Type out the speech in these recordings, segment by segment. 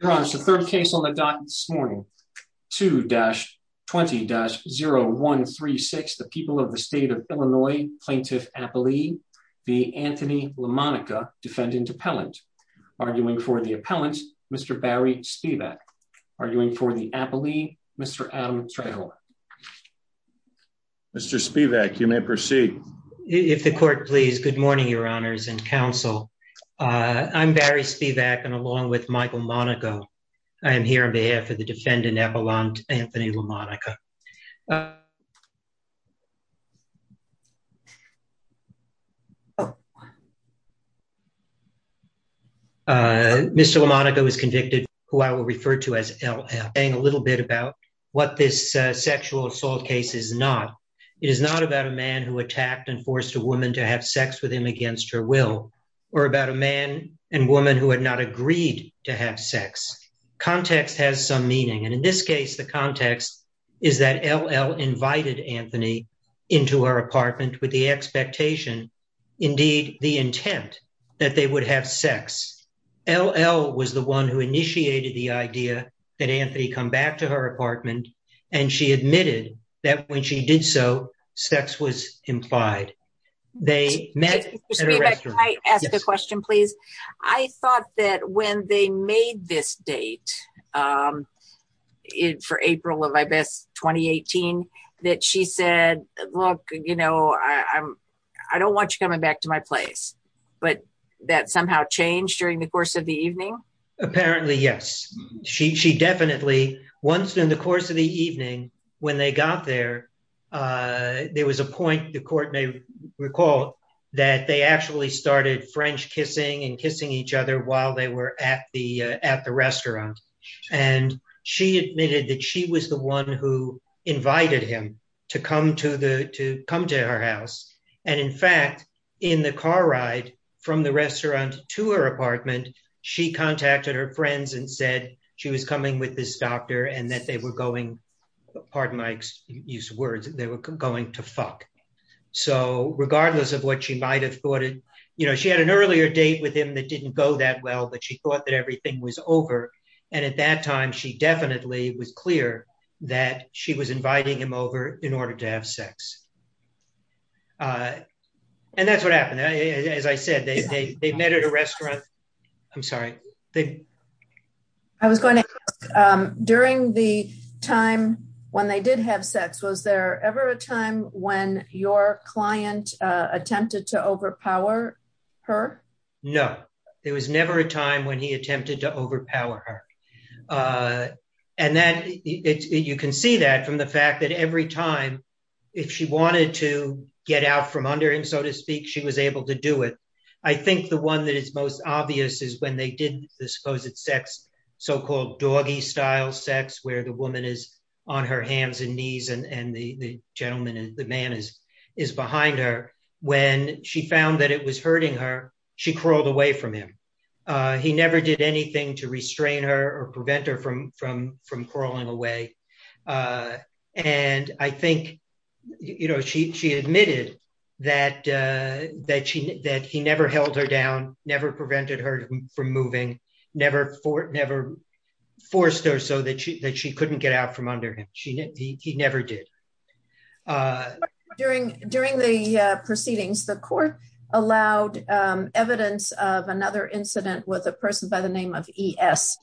Your Honor, the third case on the docket this morning, 2-20-0136, the people of the state of Illinois, Plaintiff Appellee v. Anthony Lamonica, Defendant Appellant. Arguing for the appellant, Mr. Barry Spivak. Arguing for the appellee, Mr. Adam Trejo. Mr. Spivak, you may proceed. If the court please. Good morning, Your Honors and counsel. I'm Barry Spivak, and along with Michael Monaco, I am here on behalf of the Defendant Appellant, Anthony Lamonica. Mr. Lamonica was convicted, who I will refer to as LL. I'll explain a little bit about what this sexual assault case is not. It is not about a man who attacked and forced a woman to have sex with him against her will, or about a man and woman who had not agreed to have sex. Context has some meaning, and in this case, the context is that LL invited Anthony into her apartment with the expectation, indeed the intent, that they would have sex. LL was the one who and she admitted that when she did so, sex was implied. They met at a restaurant. Mr. Spivak, can I ask a question, please? I thought that when they made this date for April of, I guess, 2018, that she said, look, you know, I don't want you coming back to my place. But that somehow changed during the course of the evening? Apparently, yes. She definitely, once in the course of the evening, when they got there, there was a point, the court may recall, that they actually started French kissing and kissing each other while they were at the restaurant. And she admitted that she was the one who invited him to come to her house. And in fact, in the car ride from the restaurant to her apartment, she contacted her friends and said she was coming with this doctor and that they were going, pardon my use of words, they were going to fuck. So regardless of what she might have thought, you know, she had an earlier date with him that didn't go that well, but she thought that everything was over. And at that time, she definitely was clear that she was inviting him over in order to have sex. And that's what happened. As I said, they met at a restaurant. I'm sorry. I was going to ask, during the time when they did have sex, was there ever a time when your client attempted to overpower her? No, there was never a time when he attempted to overpower her. And you can see that from the fact that every time, if she wanted to get out from under him, so to speak, she was able to do it. I think the one that is most obvious is when they did the supposed sex, so-called doggy style sex, where the woman is on her hands and knees and the gentleman, the man is behind her. When she found that it was hurting her, she crawled away from him. He never did anything to restrain her or prevent her from crawling away. And I think she admitted that he never held her down, never prevented her from moving, never forced her so that she couldn't get out from under him. He never did. During the proceedings, the court allowed evidence of another incident with a person by the name of Daigle.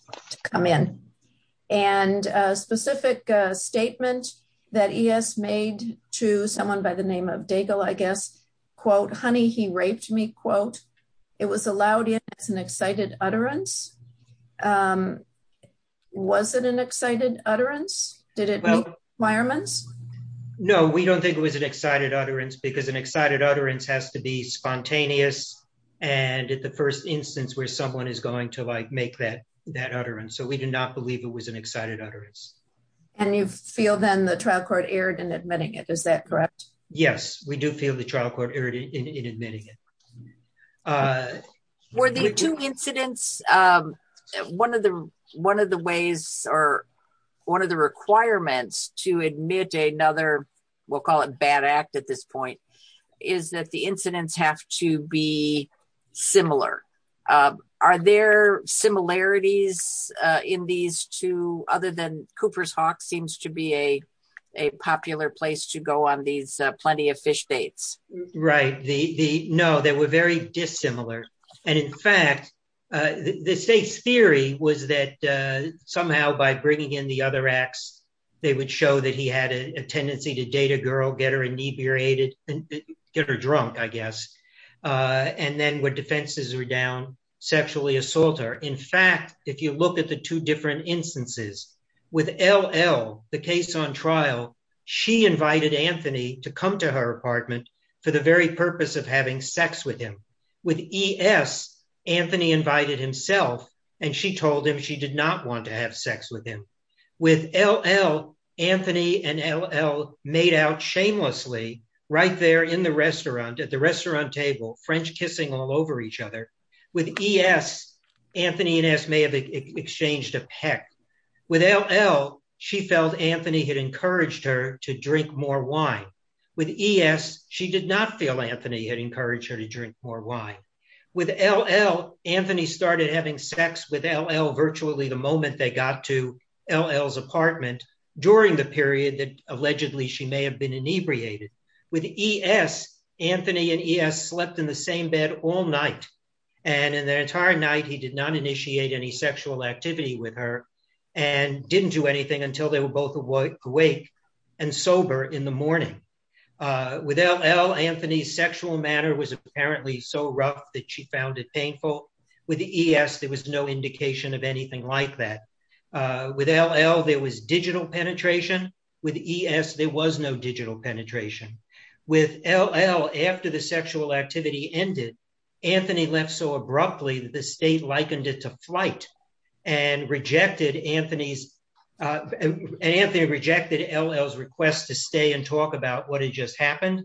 It was allowed as an excited utterance. Was it an excited utterance? No, we don't think it was an excited utterance because an excited utterance has to be spontaneous and at the first instance where someone is going to make that utterance. So, we do not believe it was an excited utterance. And you feel then the trial court erred in admitting it, is that correct? Yes, we do feel the trial court erred in admitting it. Were the two incidents, one of the requirements to admit another, we'll call it bad act at this other than Cooper's Hawk seems to be a popular place to go on these plenty of fish dates? Right. No, they were very dissimilar. And in fact, the state's theory was that somehow by bringing in the other acts, they would show that he had a tendency to date a girl, get her inebriated, get her drunk, I guess. And then when defenses were down, sexually assault in fact, if you look at the two different instances with LL, the case on trial, she invited Anthony to come to her apartment for the very purpose of having sex with him. With ES, Anthony invited himself and she told him she did not want to have sex with him. With LL, Anthony and LL made out shamelessly right there in the restaurant at the restaurant table, French kissing all over each other. With ES, Anthony and ES may have exchanged a peck. With LL, she felt Anthony had encouraged her to drink more wine. With ES, she did not feel Anthony had encouraged her to drink more wine. With LL, Anthony started having sex with LL virtually the moment they got to LL's apartment during the period that allegedly she may have been inebriated. With ES, Anthony and ES slept in the same bed all night. And in the entire night, he did not initiate any sexual activity with her and didn't do anything until they were both awake and sober in the morning. With LL, Anthony's sexual manner was apparently so rough that she found it painful. With ES, there was no indication of anything like that. With LL, there was digital penetration. With ES, there was no digital penetration. With LL, after the sexual activity ended, Anthony left so abruptly that the state likened it to flight and rejected LL's request to stay and talk about what had just happened.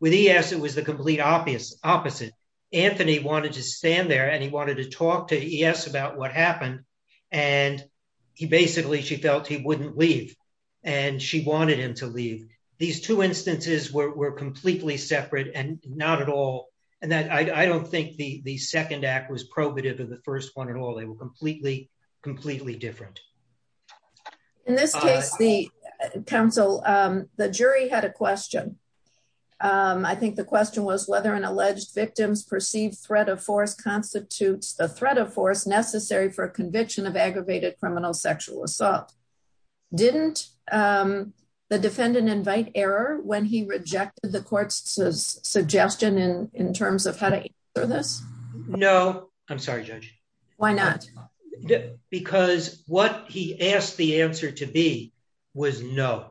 With ES, it was the complete opposite. Anthony wanted to stand there and he wanted to talk to ES about what happened. And basically, she felt he wouldn't leave. She wanted him to leave. These two instances were completely separate and not at all. I don't think the second act was probative of the first one at all. They were completely, completely different. In this case, the jury had a question. I think the question was whether an alleged victim's perceived threat of force constitutes the threat of force necessary for a conviction of aggravated criminal sexual assault. Didn't the defendant invite error when he rejected the court's suggestion in terms of how to answer this? No. I'm sorry, Judge. Why not? Because what he asked the answer to be was no.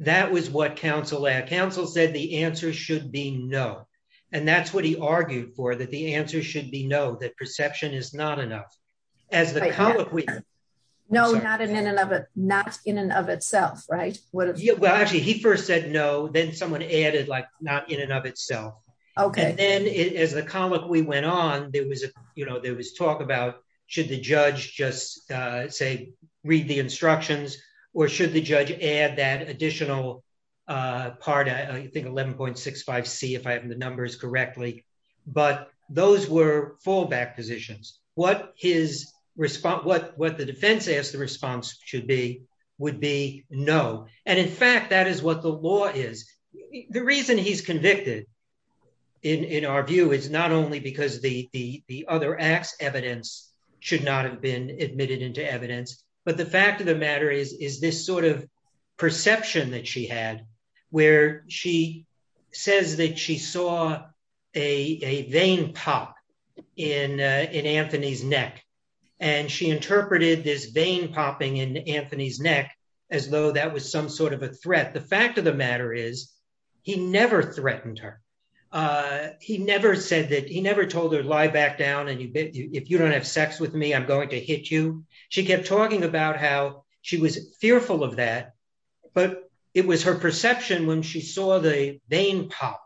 That was what counsel said. Counsel said the answer should be no. And that's what he argued for, that the answer should be no, that perception is not enough. No, not in and of itself, right? Well, actually, he first said no. Then someone added, like, not in and of itself. And then as the comic we went on, there was talk about should the judge just, say, read the instructions or should the judge add that additional part, I think 11.65C if I have numbers correctly. But those were fallback positions. What his response, what the defense asked the response should be, would be no. And in fact, that is what the law is. The reason he's convicted, in our view, is not only because the other act's evidence should not have been admitted into evidence, but the fact of the matter is this sort of perception that she had, where she says that she saw a vein pop in Anthony's neck. And she interpreted this vein popping in Anthony's neck as though that was some sort of a threat. The fact of the matter is, he never threatened her. He never said that, he never told her, lie back down. And if you don't have sex with me, I'm going to hit you. She kept talking about how she was fearful of that. But it was her perception when she saw the vein pop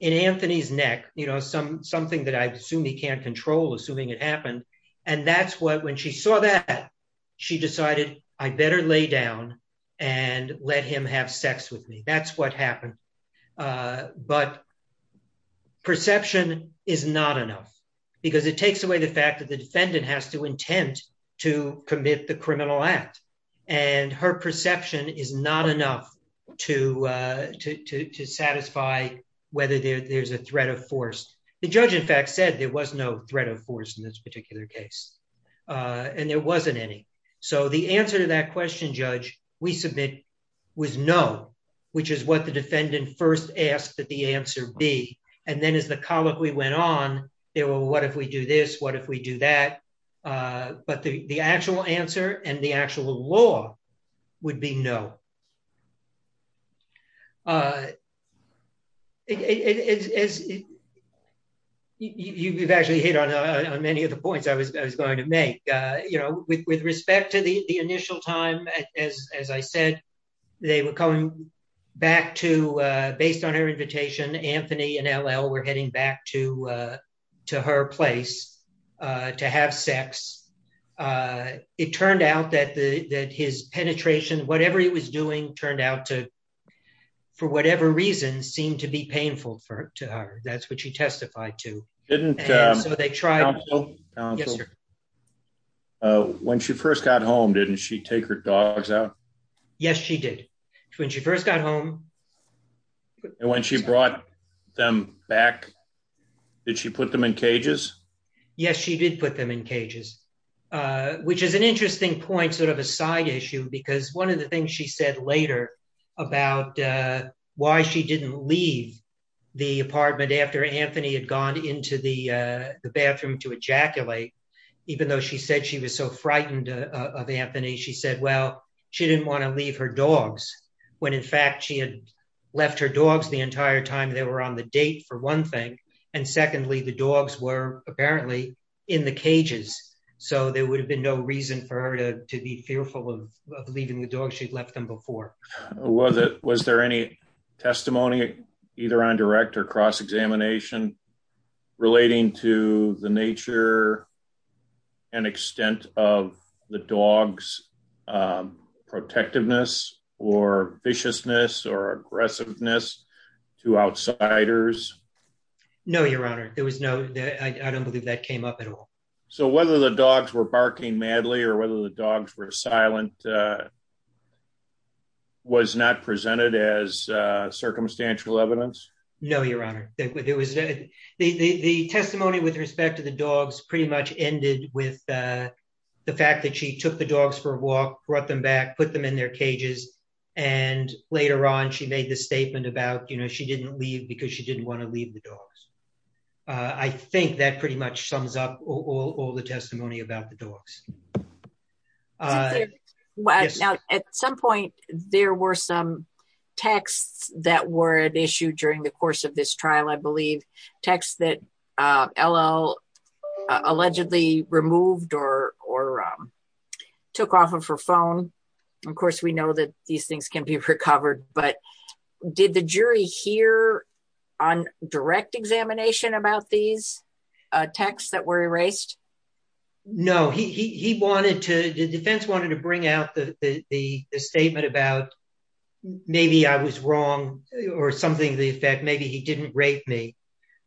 in Anthony's neck, you know, something that I assume he can't control, assuming it happened. And that's what, when she saw that, she decided I better lay down and let him have sex with me. That's what happened. But perception is not enough, because it takes away the fact that the defendant has to intend to commit the criminal act. And her perception is not enough to satisfy whether there's a threat of force. The judge, in fact, said there was no threat of force in this particular case. And there wasn't any. So the answer to that question, Judge, we submit was no, which is what the defendant first asked that the answer be. And then as the colloquy went on, they were, what if we do this? What if we do that? But the actual answer and the actual law would be no. You've actually hit on many of the points I was going to make, you know, with respect to the initial time, as I said, they were coming back to, based on her invitation, Anthony and L.L. were heading back to her place to have sex. It turned out that his penetration, whatever he was doing, turned out to, for whatever reason, seemed to be painful to her. That's what she testified to. When she first got home, didn't she take her dogs out? Yes, she did. When she first got home. And when she brought them back, did she put them in cages? Yes, she did put them in cages, which is an interesting point, sort of a side issue, because one of the things she said later about why she didn't leave the apartment after Anthony had gone into the bathroom to ejaculate, even though she said she was so frightened of Anthony, she said, well, she didn't want to leave her dogs, when in fact, she had left her dogs the entire time they were on the date for one thing. And secondly, the dogs were apparently in the cages. So there would have been no reason for her to be fearful of leaving the dogs, she'd left them before. Was there any testimony, either on direct or cross examination, relating to the nature and extent of the dogs' protectiveness or viciousness or aggressiveness to outsiders? No, Your Honor, there was no, I don't believe that came up at all. So whether the dogs were barking madly, or whether the dogs were silent, was not presented as circumstantial evidence? No, Your Honor, there was the testimony with respect to the dogs pretty much ended with the fact that she took the dogs for a walk, brought them back, put them in their cages. And later on, she made the statement about, you know, she didn't leave because she didn't want to leave the dogs. I think that pretty much sums up all the testimony about the dogs. Now, at some point, there were some texts that were at issue during the course of this trial, I believe, texts that L.L. allegedly removed or took off of her phone. Of course, we know that these things can be recovered. But did the jury hear on direct examination about these texts that were erased? No, he wanted to, the defense wanted to bring out the statement about maybe I was wrong, or something to the effect, maybe he didn't rape me.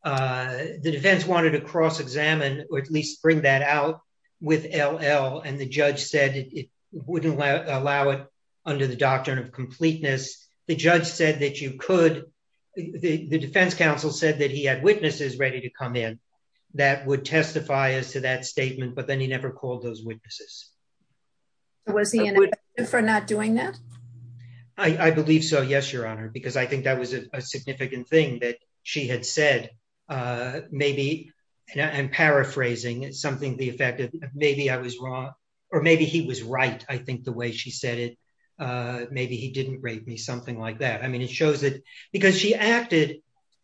The defense wanted to cross examine, or at least bring that out with L.L. And the judge said it wouldn't allow it under the doctrine of completeness. The judge said that you could, the defense counsel said that he had would testify as to that statement, but then he never called those witnesses. Was he in for not doing that? I believe so. Yes, Your Honor, because I think that was a significant thing that she had said. Maybe I'm paraphrasing something the effect of maybe I was wrong. Or maybe he was right. I think the way she said it. Maybe he didn't rape me something like that. I mean, it shows that she acted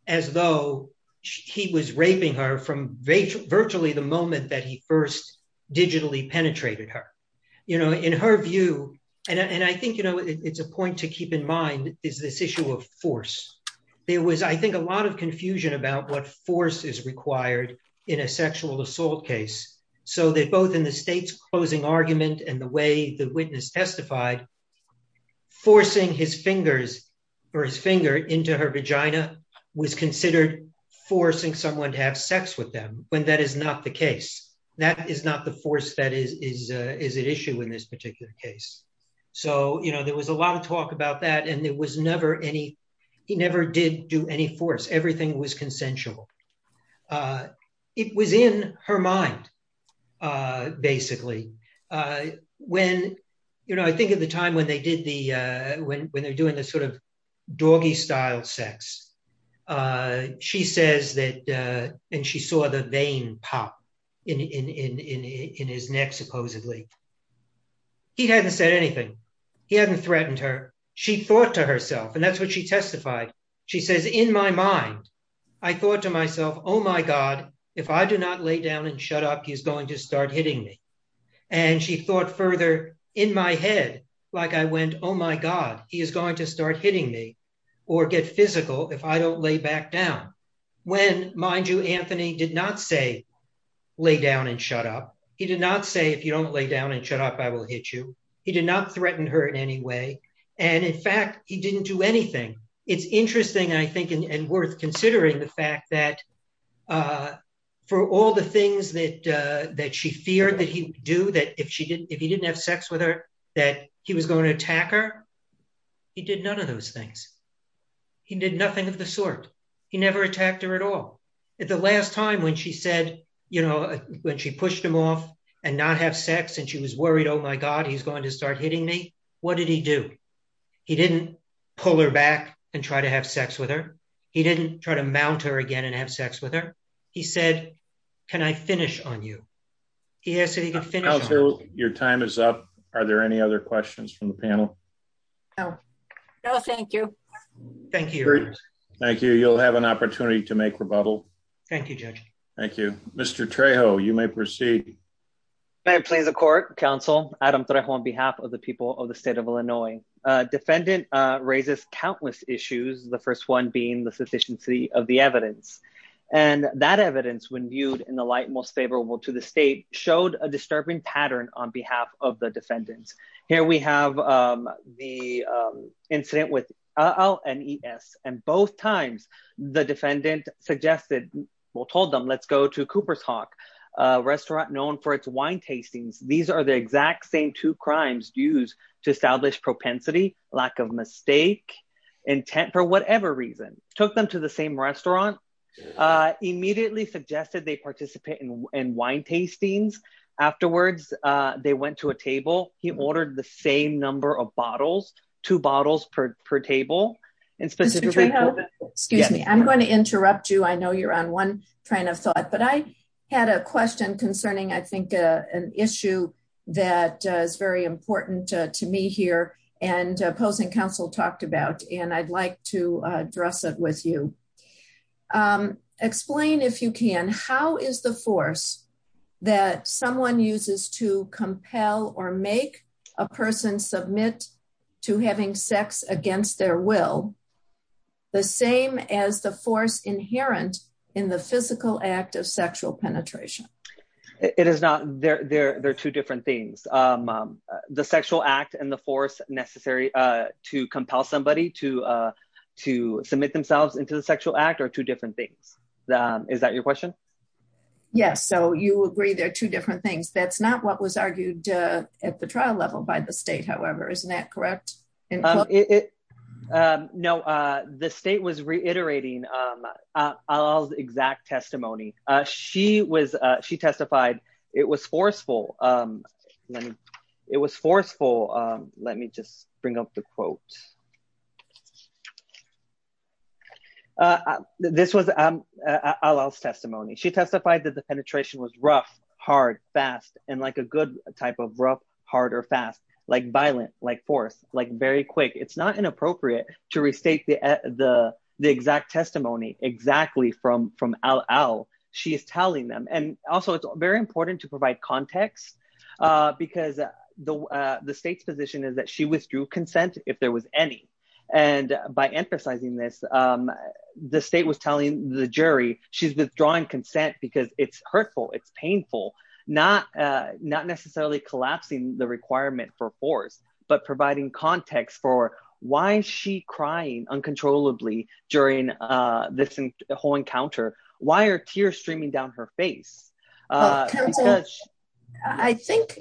as though he was raping her from virtually the moment that he first digitally penetrated her, you know, in her view. And I think, you know, it's a point to keep in mind is this issue of force. There was, I think, a lot of confusion about what force is required in a sexual assault case. So that both in the state's closing argument and the way the witness testified, forcing his fingers or his finger into her vagina was considered forcing someone to have sex with them when that is not the case. That is not the force that is an issue in this particular case. So, you know, there was a lot of talk about that. And there was never any, he never did do everything was consensual. It was in her mind, basically, when, you know, I think at the time when they did the when they're doing this sort of doggy style sex. She says that, and she saw the vein pop in his neck, supposedly. He hadn't said anything. He hadn't threatened her. She thought to testify, she says, in my mind, I thought to myself, oh, my God, if I do not lay down and shut up, he's going to start hitting me. And she thought further in my head, like I went, oh, my God, he is going to start hitting me, or get physical if I don't lay back down. When mind you, Anthony did not say, lay down and shut up. He did not say if you don't lay down and shut up, I will hit you. He did not threaten her in any way. And in fact, he didn't do anything. It's interesting, I think, and worth considering the fact that for all the things that that she feared that he do that if she didn't, if he didn't have sex with her, that he was going to attack her. He did none of those things. He did nothing of the sort. He never attacked her at all. At the last time when she said, you know, when she pushed him off and not have sex, and she was worried, oh, my God, he's going to start hitting me. What did he do? He didn't pull her back and try to have sex with her. He didn't try to mount her again and have sex with her. He said, can I finish on you? He asked if he could finish. Your time is up. Are there any other questions from the panel? No. No, thank you. Thank you. Thank you. You'll have an opportunity to make rebuttal. Thank you, Judge. Thank you. Mr. Trejo, you may proceed. May it please the court, counsel, Adam Trejo on behalf of the people of the state of Illinois. Defendant raises countless issues, the first one being the sufficiency of the evidence. And that evidence when viewed in the light most favorable to the state showed a disturbing pattern on behalf of the defendants. Here we have the incident with LNES, and both times the defendant suggested, well, told them, let's go to Cooper's Hawk, a restaurant known for its wine tastings. These are the exact same two crimes used to establish propensity, lack of mistake, intent for whatever reason. Took them to the same restaurant, immediately suggested they participate in wine tastings. Afterwards, they went to a table, he ordered the same number of bottles, two bottles per table. Excuse me, I'm going to interrupt you. I know you're on one train of thought. But I had a question concerning, I think, an issue that is very important to me here, and opposing counsel talked about, and I'd like to address it with you. Explain if you can, how is the force that someone uses to a person submit to having sex against their will, the same as the force inherent in the physical act of sexual penetration? It is not, they're two different things. The sexual act and the force necessary to compel somebody to submit themselves into the sexual act are two different things. Is that your question? Yes. So you agree they're two different things. That's not what was leveled by the state, however, isn't that correct? No, the state was reiterating exact testimony. She was, she testified, it was forceful. It was forceful. Let me just bring up the quote. This was all else testimony, she testified that the penetration was rough, hard, fast, and like a good type of rough, hard, or fast, like violent, like force, like very quick. It's not inappropriate to restate the exact testimony exactly from al al. She is telling them. And also it's very important to provide context, because the state's position is that she withdrew consent if there was any. And by emphasizing this, the state was telling the jury she's withdrawing consent because it's hurtful, it's painful, not necessarily collapsing the requirement for force, but providing context for why is she crying uncontrollably during this whole encounter? Why are tears streaming down her face? I think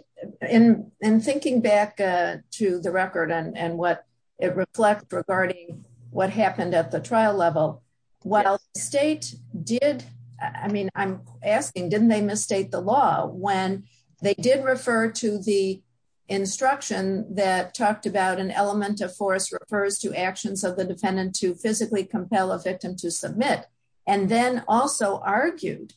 in thinking back to the record and what it reflects regarding what happened at the trial level, while the state did, I mean, I'm asking, didn't they misstate the law when they did refer to the instruction that talked about an element of force refers to actions of the defendant to physically compel a victim to submit, and then also argued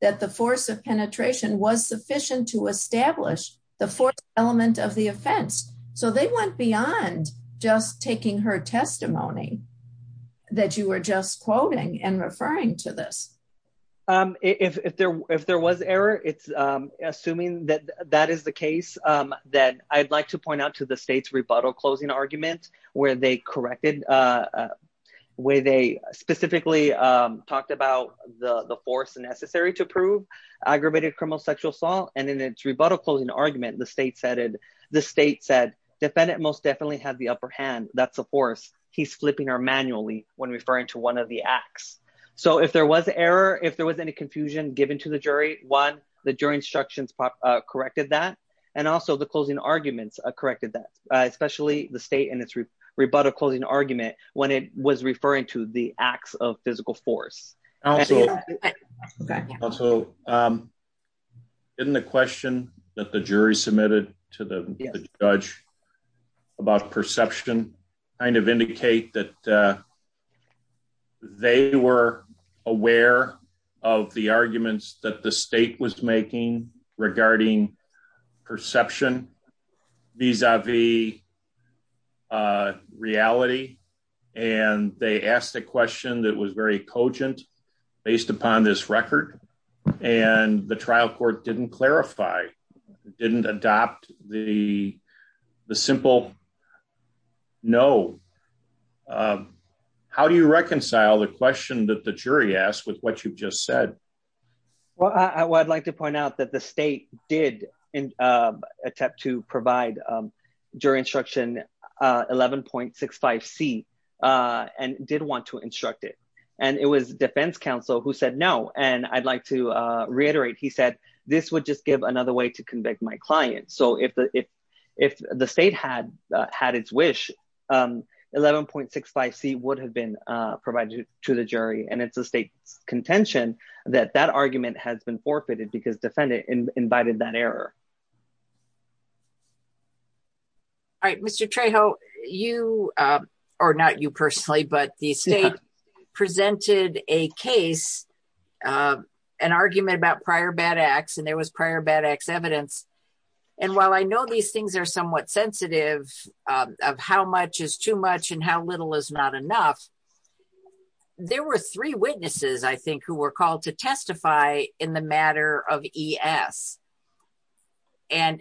that the force of penetration was sufficient to establish the force element of the offense. So they went beyond just taking her testimony that you were just quoting and referring to this. If there was error, it's assuming that that is the case, that I'd like to point out to the state's rebuttal closing argument, where they corrected, where they specifically talked about the force necessary to prove aggravated criminal sexual assault, and in its rebuttal closing argument, the state said, the state said, defendant most definitely had the upper hand, that's a force, he's flipping her manually when referring to one of the acts. So if there was error, if there was any confusion given to the jury, one, the jury instructions corrected that, and also the closing arguments corrected that, especially the state and its rebuttal closing argument when it was referring to the of physical force. Also, in the question that the jury submitted to the judge about perception, kind of indicate that they were aware of the arguments that the state was making regarding perception vis-a-vis reality, and they asked a question that was very cogent, based upon this record, and the trial court didn't clarify, didn't adopt the simple no. How do you reconcile the question that the jury asked with what you've just said? Well, I would like to point out that the state did attempt to provide jury instruction 11.65c, and did want to instruct it, and it was defense counsel who said no, and I'd like to reiterate, he said, this would just give another way to convict my client. So if the state had its wish, 11.65c would have been provided to the jury, and it's the state's contention that that argument has been forfeited because defendant invited that error. All right, Mr. Trejo, you, or not you personally, but the state presented a case, an argument about prior bad acts, and there was prior bad acts evidence, and while I know these things are somewhat sensitive of how much is too much and how little is not enough, there were three witnesses, I think, who were called to testify in the matter of ES, and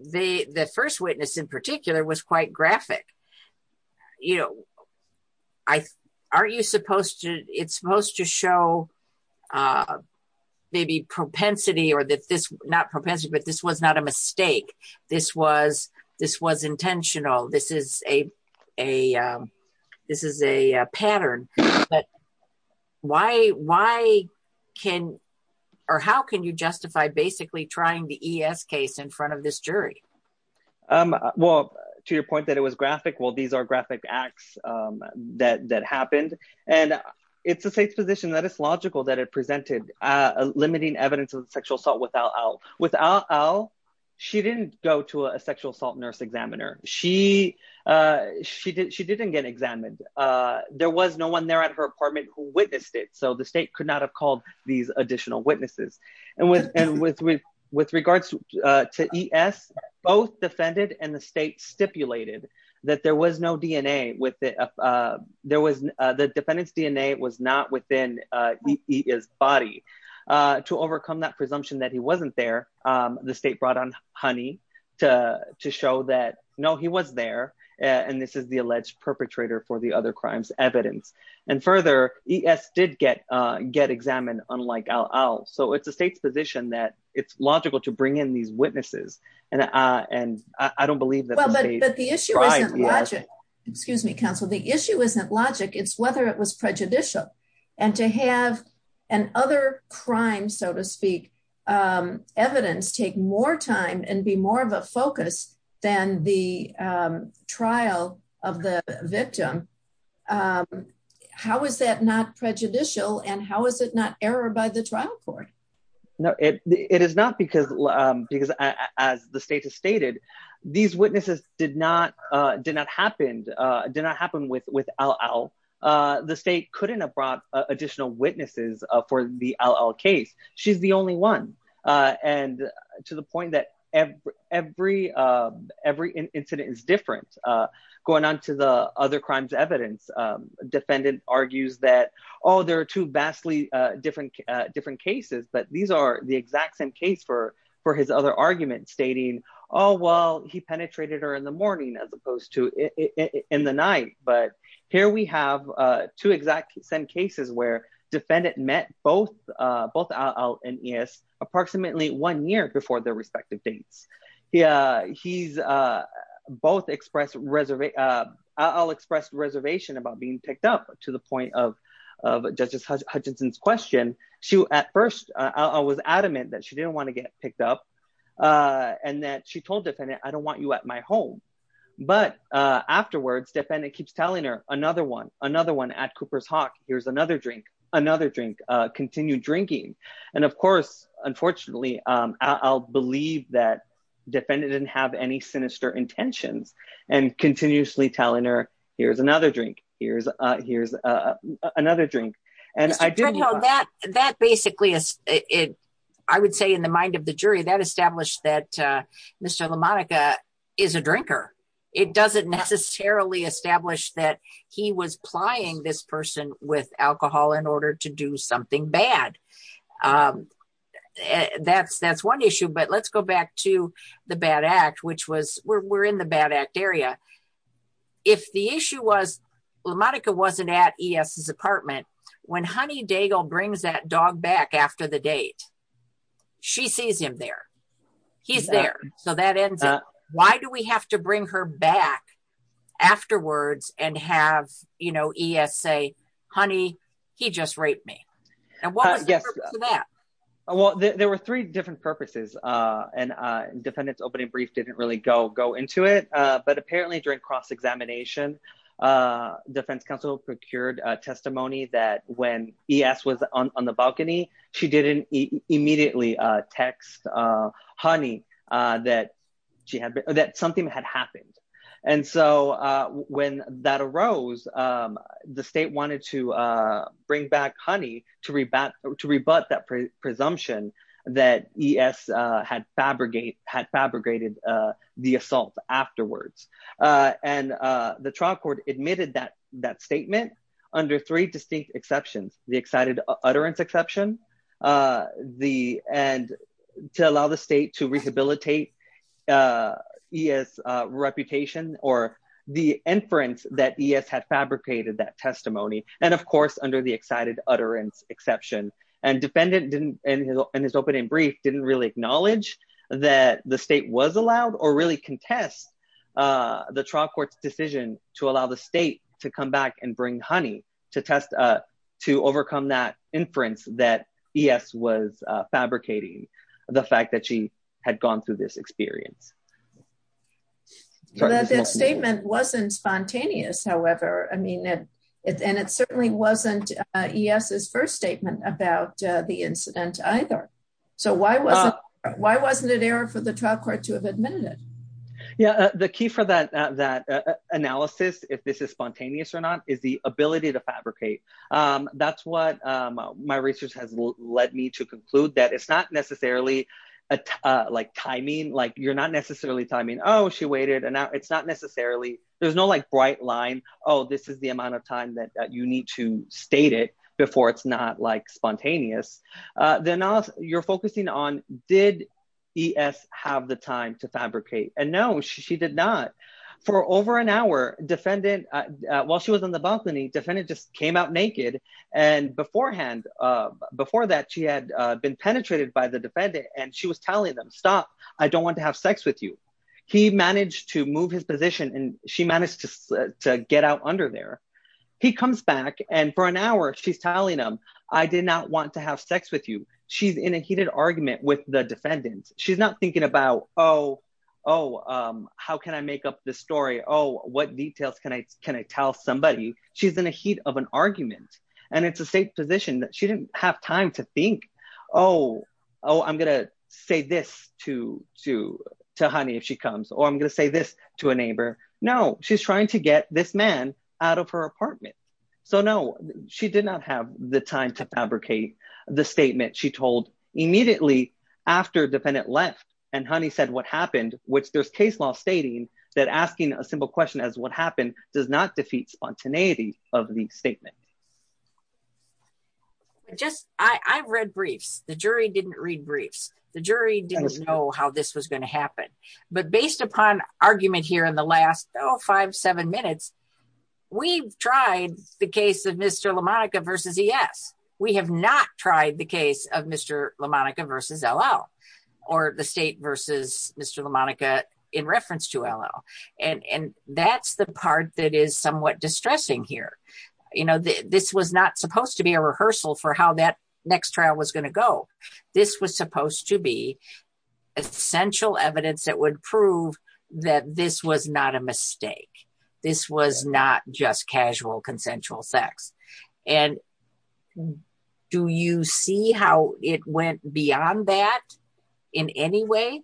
the first witness in particular was quite graphic. You know, aren't you supposed to, it's supposed to show maybe propensity, or that this, not propensity, but this was not a mistake, this was intentional, this is a pattern, but why can, or how can you justify basically trying the ES case in front of this jury? Well, to your point that it was graphic, well, these are graphic acts that happened, and it's the state's position that it's logical that it presented a limiting evidence of sexual assault with Al Al. With Al Al, she didn't go to a sexual assault nurse examiner. She didn't get examined. There was no one there at her apartment who witnessed it, so the state could not have called these additional witnesses, and with regards to ES, both defended and the state stipulated that there was no DNA with the, there was, the defendant's DNA was not within his body. To overcome that presumption that he wasn't there, the state brought on Honey to show that, no, he was there, and this is the alleged perpetrator for the other crimes evidence, and further, ES did get examined, unlike Al Al, so it's the state's position that it's logical to bring in these witnesses, and I don't believe that the state tried. But the issue isn't logic. Excuse me, counsel. The issue isn't logic. It's whether it was prejudicial, and to have an other crime, so to speak, evidence take more time and be more of a focus than the trial of the victim, how is that not prejudicial, and how is it not error by the trial court? No, it, it is not because, because as the state has stated, these witnesses did not, did not happen, did not happen with, with Al Al. The state couldn't have brought additional witnesses for the Al Al case. She's the only one, and to the point that every, every, every incident is different. Going on to the other crimes evidence, defendant argues that, oh, there are two vastly different, different cases, but these are the exact same case for, for his other argument, stating, oh, well, he penetrated her in the morning as opposed to in the night, but here we have two exact same cases where defendant met both, both Al Al and ES approximately one year before their respective dates. He, he's both expressed, Al Al expressed reservation about being picked up to the point of, of Justice Hutchinson's question. She, at first, Al Al was adamant that she didn't want to get picked up and that she told defendant, I don't want you at my home. But afterwards, defendant keeps telling her another one, another one at Cooper's Hawk, here's another drink, another drink, continue drinking. And of course, unfortunately, Al Al believed that defendant didn't have any and that basically is it. I would say in the mind of the jury that established that Mr. LaMonica is a drinker. It doesn't necessarily establish that he was plying this person with alcohol in order to do something bad. That's, that's one issue, but let's go back to the bad act, which was where we're in the bad act area. If the issue was LaMonica wasn't at ES's apartment, when Honey Daigle brings that dog back after the date, she sees him there. He's there. So that ends up, why do we have to bring her back afterwards and have, you know, ES say, honey, he just raped me. And what was the purpose of that? Well, there were three different purposes and defendant's opening brief didn't really go, go into it. But apparently during cross-examination, defense counsel procured a testimony that when ES was on the balcony, she didn't immediately text Honey that she had, that something had happened. And so when that arose, the state wanted to bring back Honey to rebut that presumption that ES had fabricated the assault afterwards. And the trial court admitted that, that statement under three distinct exceptions, the excited utterance exception, the, and to allow the state to rehabilitate ES reputation or the inference that ES had fabricated that testimony. And of course, under the excited utterance exception and defendant didn't, in his opening brief, didn't really acknowledge that the state was allowed or really contest the trial court's decision to allow the state to come back and bring Honey to test, to overcome that inference that ES was fabricating the fact that she had gone through this experience. That statement wasn't spontaneous, however. I mean, and it certainly wasn't ES's first about the incident either. So why wasn't it error for the trial court to have admitted it? Yeah. The key for that analysis, if this is spontaneous or not, is the ability to fabricate. That's what my research has led me to conclude that it's not necessarily like timing, like you're not necessarily timing. Oh, she waited. And now it's not necessarily, there's no like bright line. Oh, this is the amount of time that you need to state it before it's not like spontaneous. The analysis you're focusing on, did ES have the time to fabricate? And no, she did not. For over an hour defendant, while she was in the balcony, defendant just came out naked. And beforehand, before that she had been penetrated by the defendant and she was telling them, stop, I don't want to have sex with you. He managed to move his position and she managed to get out under there. He comes back and for an hour, she's telling him, I did not want to have sex with you. She's in a heated argument with the defendant. She's not thinking about, oh, how can I make up the story? Oh, what details can I tell somebody? She's in a heat of an argument and it's a safe position that she didn't have time to think. Oh, I'm going to say this to a neighbor. No, she's trying to get this man out of her apartment. So no, she did not have the time to fabricate the statement. She told immediately after defendant left and honey said what happened, which there's case law stating that asking a simple question as what happened does not defeat spontaneity of the statement. I've read briefs. The jury didn't read briefs. The jury didn't know how this was going to happen. But based upon argument here in the last five, seven minutes, we've tried the case of Mr. LaMonica versus ES. We have not tried the case of Mr. LaMonica versus LL or the state versus Mr. LaMonica in reference to LL. And that's the part that is somewhat distressing here. This was not supposed to be a rehearsal for how that next trial was going to go. This was supposed to be essential evidence that would prove that this was not a mistake. This was not just casual consensual sex. And do you see how it went beyond that in any way?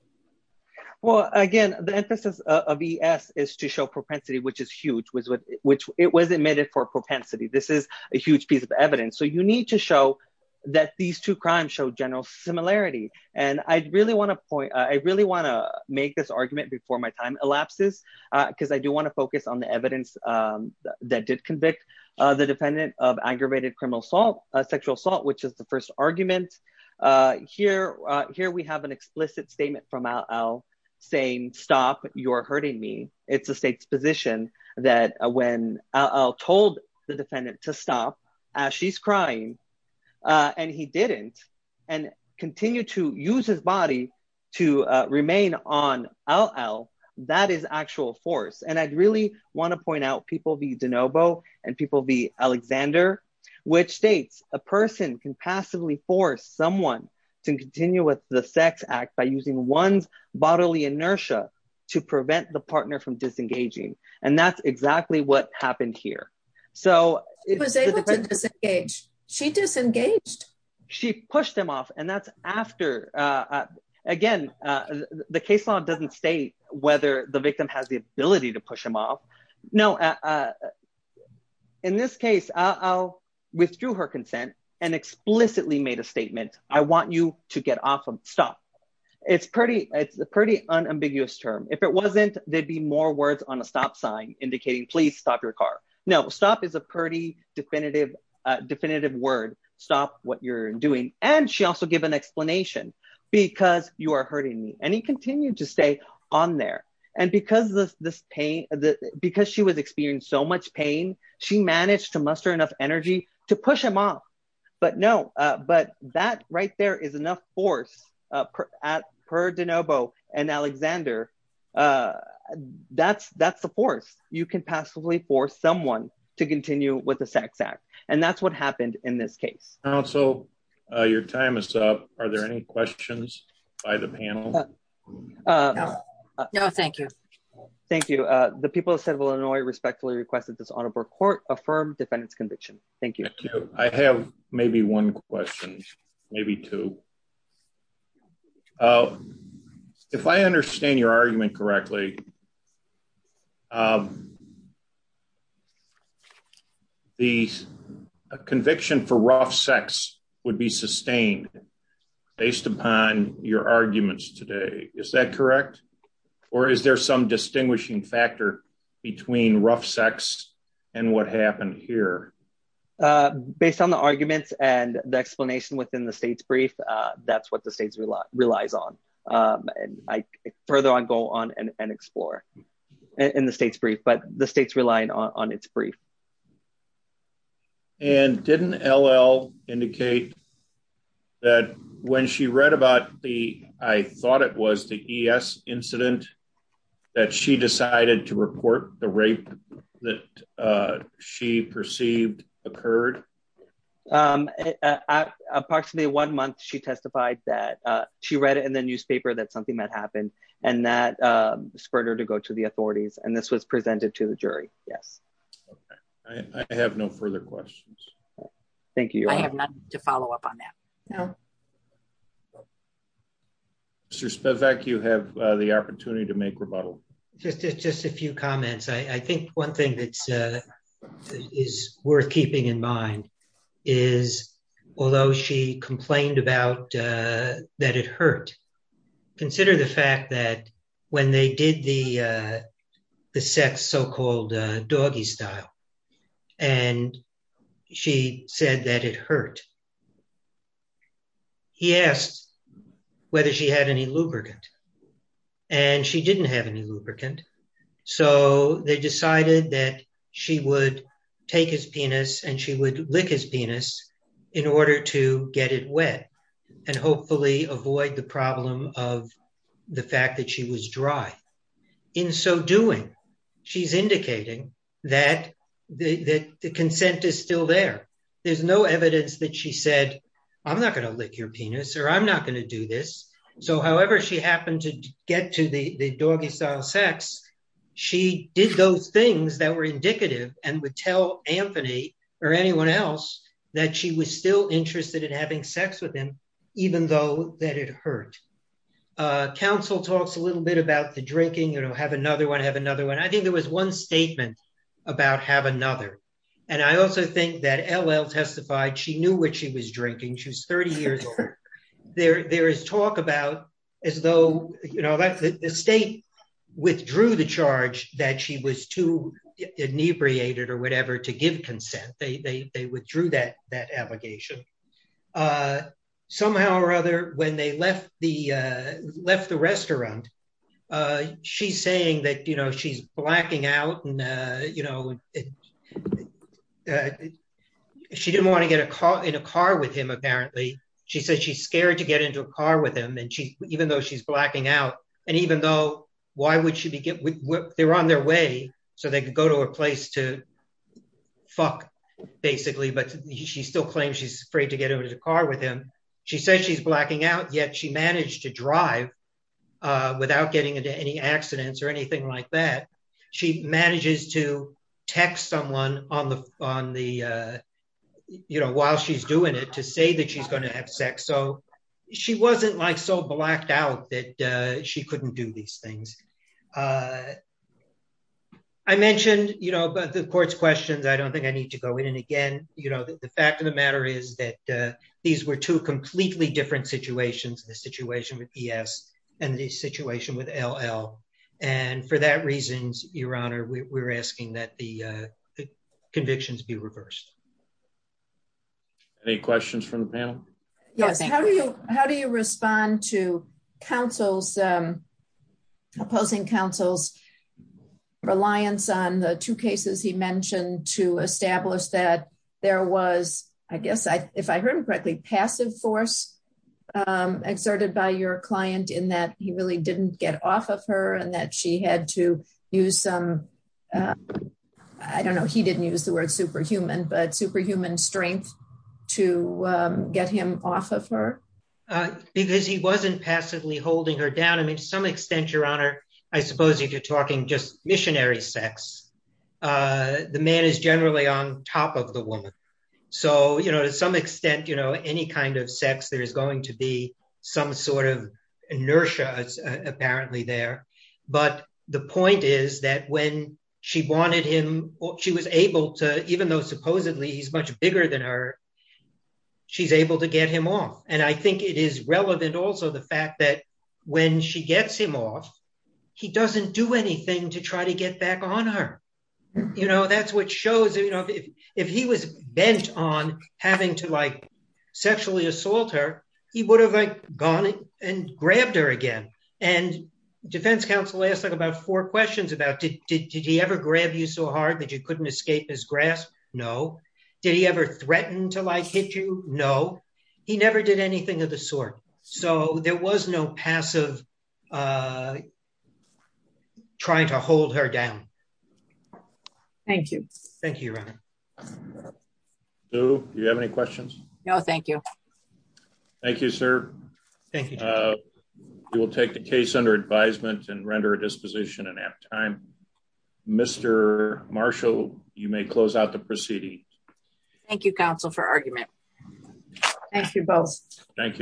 Well, again, the emphasis of ES is to show propensity, which is huge, which it was admitted for propensity. This is a huge piece of evidence. So you need to show that these two crimes show general similarity. And I really want to make this argument before my time elapses, because I do want to focus on the evidence that did convict the defendant of aggravated sexual assault, which is the first argument. Here we have an explicit statement from LL saying, stop, you're hurting me. It's the state's position that when LL told the defendant to stop as she's crying, and he didn't, and continue to use his body to remain on LL, that is actual force. And I'd really want to point out people be DeNovo and people be Alexander, which states a person can passively force someone to continue with the sex act by using one's bodily inertia to prevent the partner from disengaging. And that's exactly what happened here. So she disengaged, she pushed him off. And that's after, again, the case law doesn't state whether the victim has the ability to push them off. No. In this case, LL withdrew her consent and made a statement. I want you to get off of stop. It's pretty, it's a pretty unambiguous term. If it wasn't, there'd be more words on a stop sign indicating, please stop your car. No, stop is a pretty definitive, definitive word. Stop what you're doing. And she also gave an explanation because you are hurting me. And he continued to stay on there. And because this pain, because she was experiencing so much pain, she managed to muster enough energy to push him off. But no, but that right there is enough force at per DeNovo and Alexander. That's, that's the force you can passively force someone to continue with the sex act. And that's what happened in this case. So your time is up. Are there any questions by the panel? No, thank you. Thank you. The people of Illinois respectfully requested this honorable court affirm defendants conviction. Thank you. I have maybe one question, maybe two. If I understand your argument correctly, the conviction for rough sex would be sustained based upon your arguments today. Is that correct? Or is there some distinguishing factor between rough sex and what happened here? Based on the arguments and the explanation within the state's brief, that's what the state's rely relies on. And I further on go on and explore in the state's brief, but the state's relying on its brief. Okay. And didn't LL indicate that when she read about the, I thought it was the ES incident that she decided to report the rape that she perceived occurred. Approximately one month, she testified that she read it in the newspaper, that something that happened and that spurred her to go to the authorities. And this was presented to the jury. Yes. Okay. I have no further questions. Thank you. I have not to follow up on that. No. Mr. Spivak, you have the opportunity to make rebuttal. Just, just a few comments. I think one thing that's is worth keeping in mind is, although she complained about that, it hurt consider the fact that when they did the, the sex so-called doggy style, and she said that it hurt. He asked whether she had any lubricant and she didn't have any lubricant. So they decided that she would take his penis and she would lick his penis in order to get it wet and hopefully avoid the problem of the fact that she was dry. In so doing, she's indicating that the consent is still there. There's no evidence that she said, I'm not going to lick your penis or I'm not going to do this. So however, she happened to get to the doggy style sex. She did those things that were indicative and would tell Anthony or anyone else that she was still interested in having sex with even though that it hurt. Council talks a little bit about the drinking, you know, have another one, have another one. I think there was one statement about have another. And I also think that LL testified, she knew what she was drinking. She was 30 years old. There, there is talk about as though, you know, the state withdrew the charge that she was too inebriated or whatever to give consent. They, they, they withdrew that, that allegation. Somehow or other when they left the left the restaurant she's saying that, you know, she's blacking out and you know, she didn't want to get a car in a car with him. Apparently she said, she's scared to get into a car with him. And she, even though she's blacking out and even though why would she be getting whipped? They're on their way. So they could go to a place to fuck basically, but she still claims she's afraid to get into the car with him. She says she's blacking out yet. She managed to drive without getting into any accidents or anything like that. She manages to text someone on the, on the you know, while she's doing it to say that she's going to have sex. So she wasn't like so blacked out that she couldn't do these things. I mentioned, you know, the court's questions. I don't think I need to go in. And again, you know, the fact of the matter is that these were two completely different situations, the situation with ES and the situation with LL. And for that reasons, your honor, we're asking that the convictions be reversed. Any questions from the panel? Yes. How do you, how do you see the opposing counsel's reliance on the two cases he mentioned to establish that there was, I guess I, if I heard him correctly, passive force exerted by your client in that he really didn't get off of her and that she had to use some, I don't know, he didn't use the word superhuman, but superhuman strength to get him off of her. Because he wasn't passively holding her down. To some extent, your honor, I suppose if you're talking just missionary sex, the man is generally on top of the woman. So, you know, to some extent, you know, any kind of sex, there is going to be some sort of inertia apparently there. But the point is that when she wanted him, she was able to, even though supposedly he's much bigger than her, she's able to get him off. And I think it is relevant also the fact that when she gets him off, he doesn't do anything to try to get back on her. You know, that's what shows, you know, if he was bent on having to like sexually assault her, he would have gone and grabbed her again. And defense counsel asked like about four questions about did he ever grab you so hard you couldn't escape his grasp? No. Did he ever threaten to like hit you? No. He never did anything of the sort. So there was no passive trying to hold her down. Thank you. Thank you, your honor. Do you have any questions? No, thank you. Thank you, sir. Thank you. We will take the you may close out the proceeding. Thank you, counsel for argument. Thank you both. Thank you.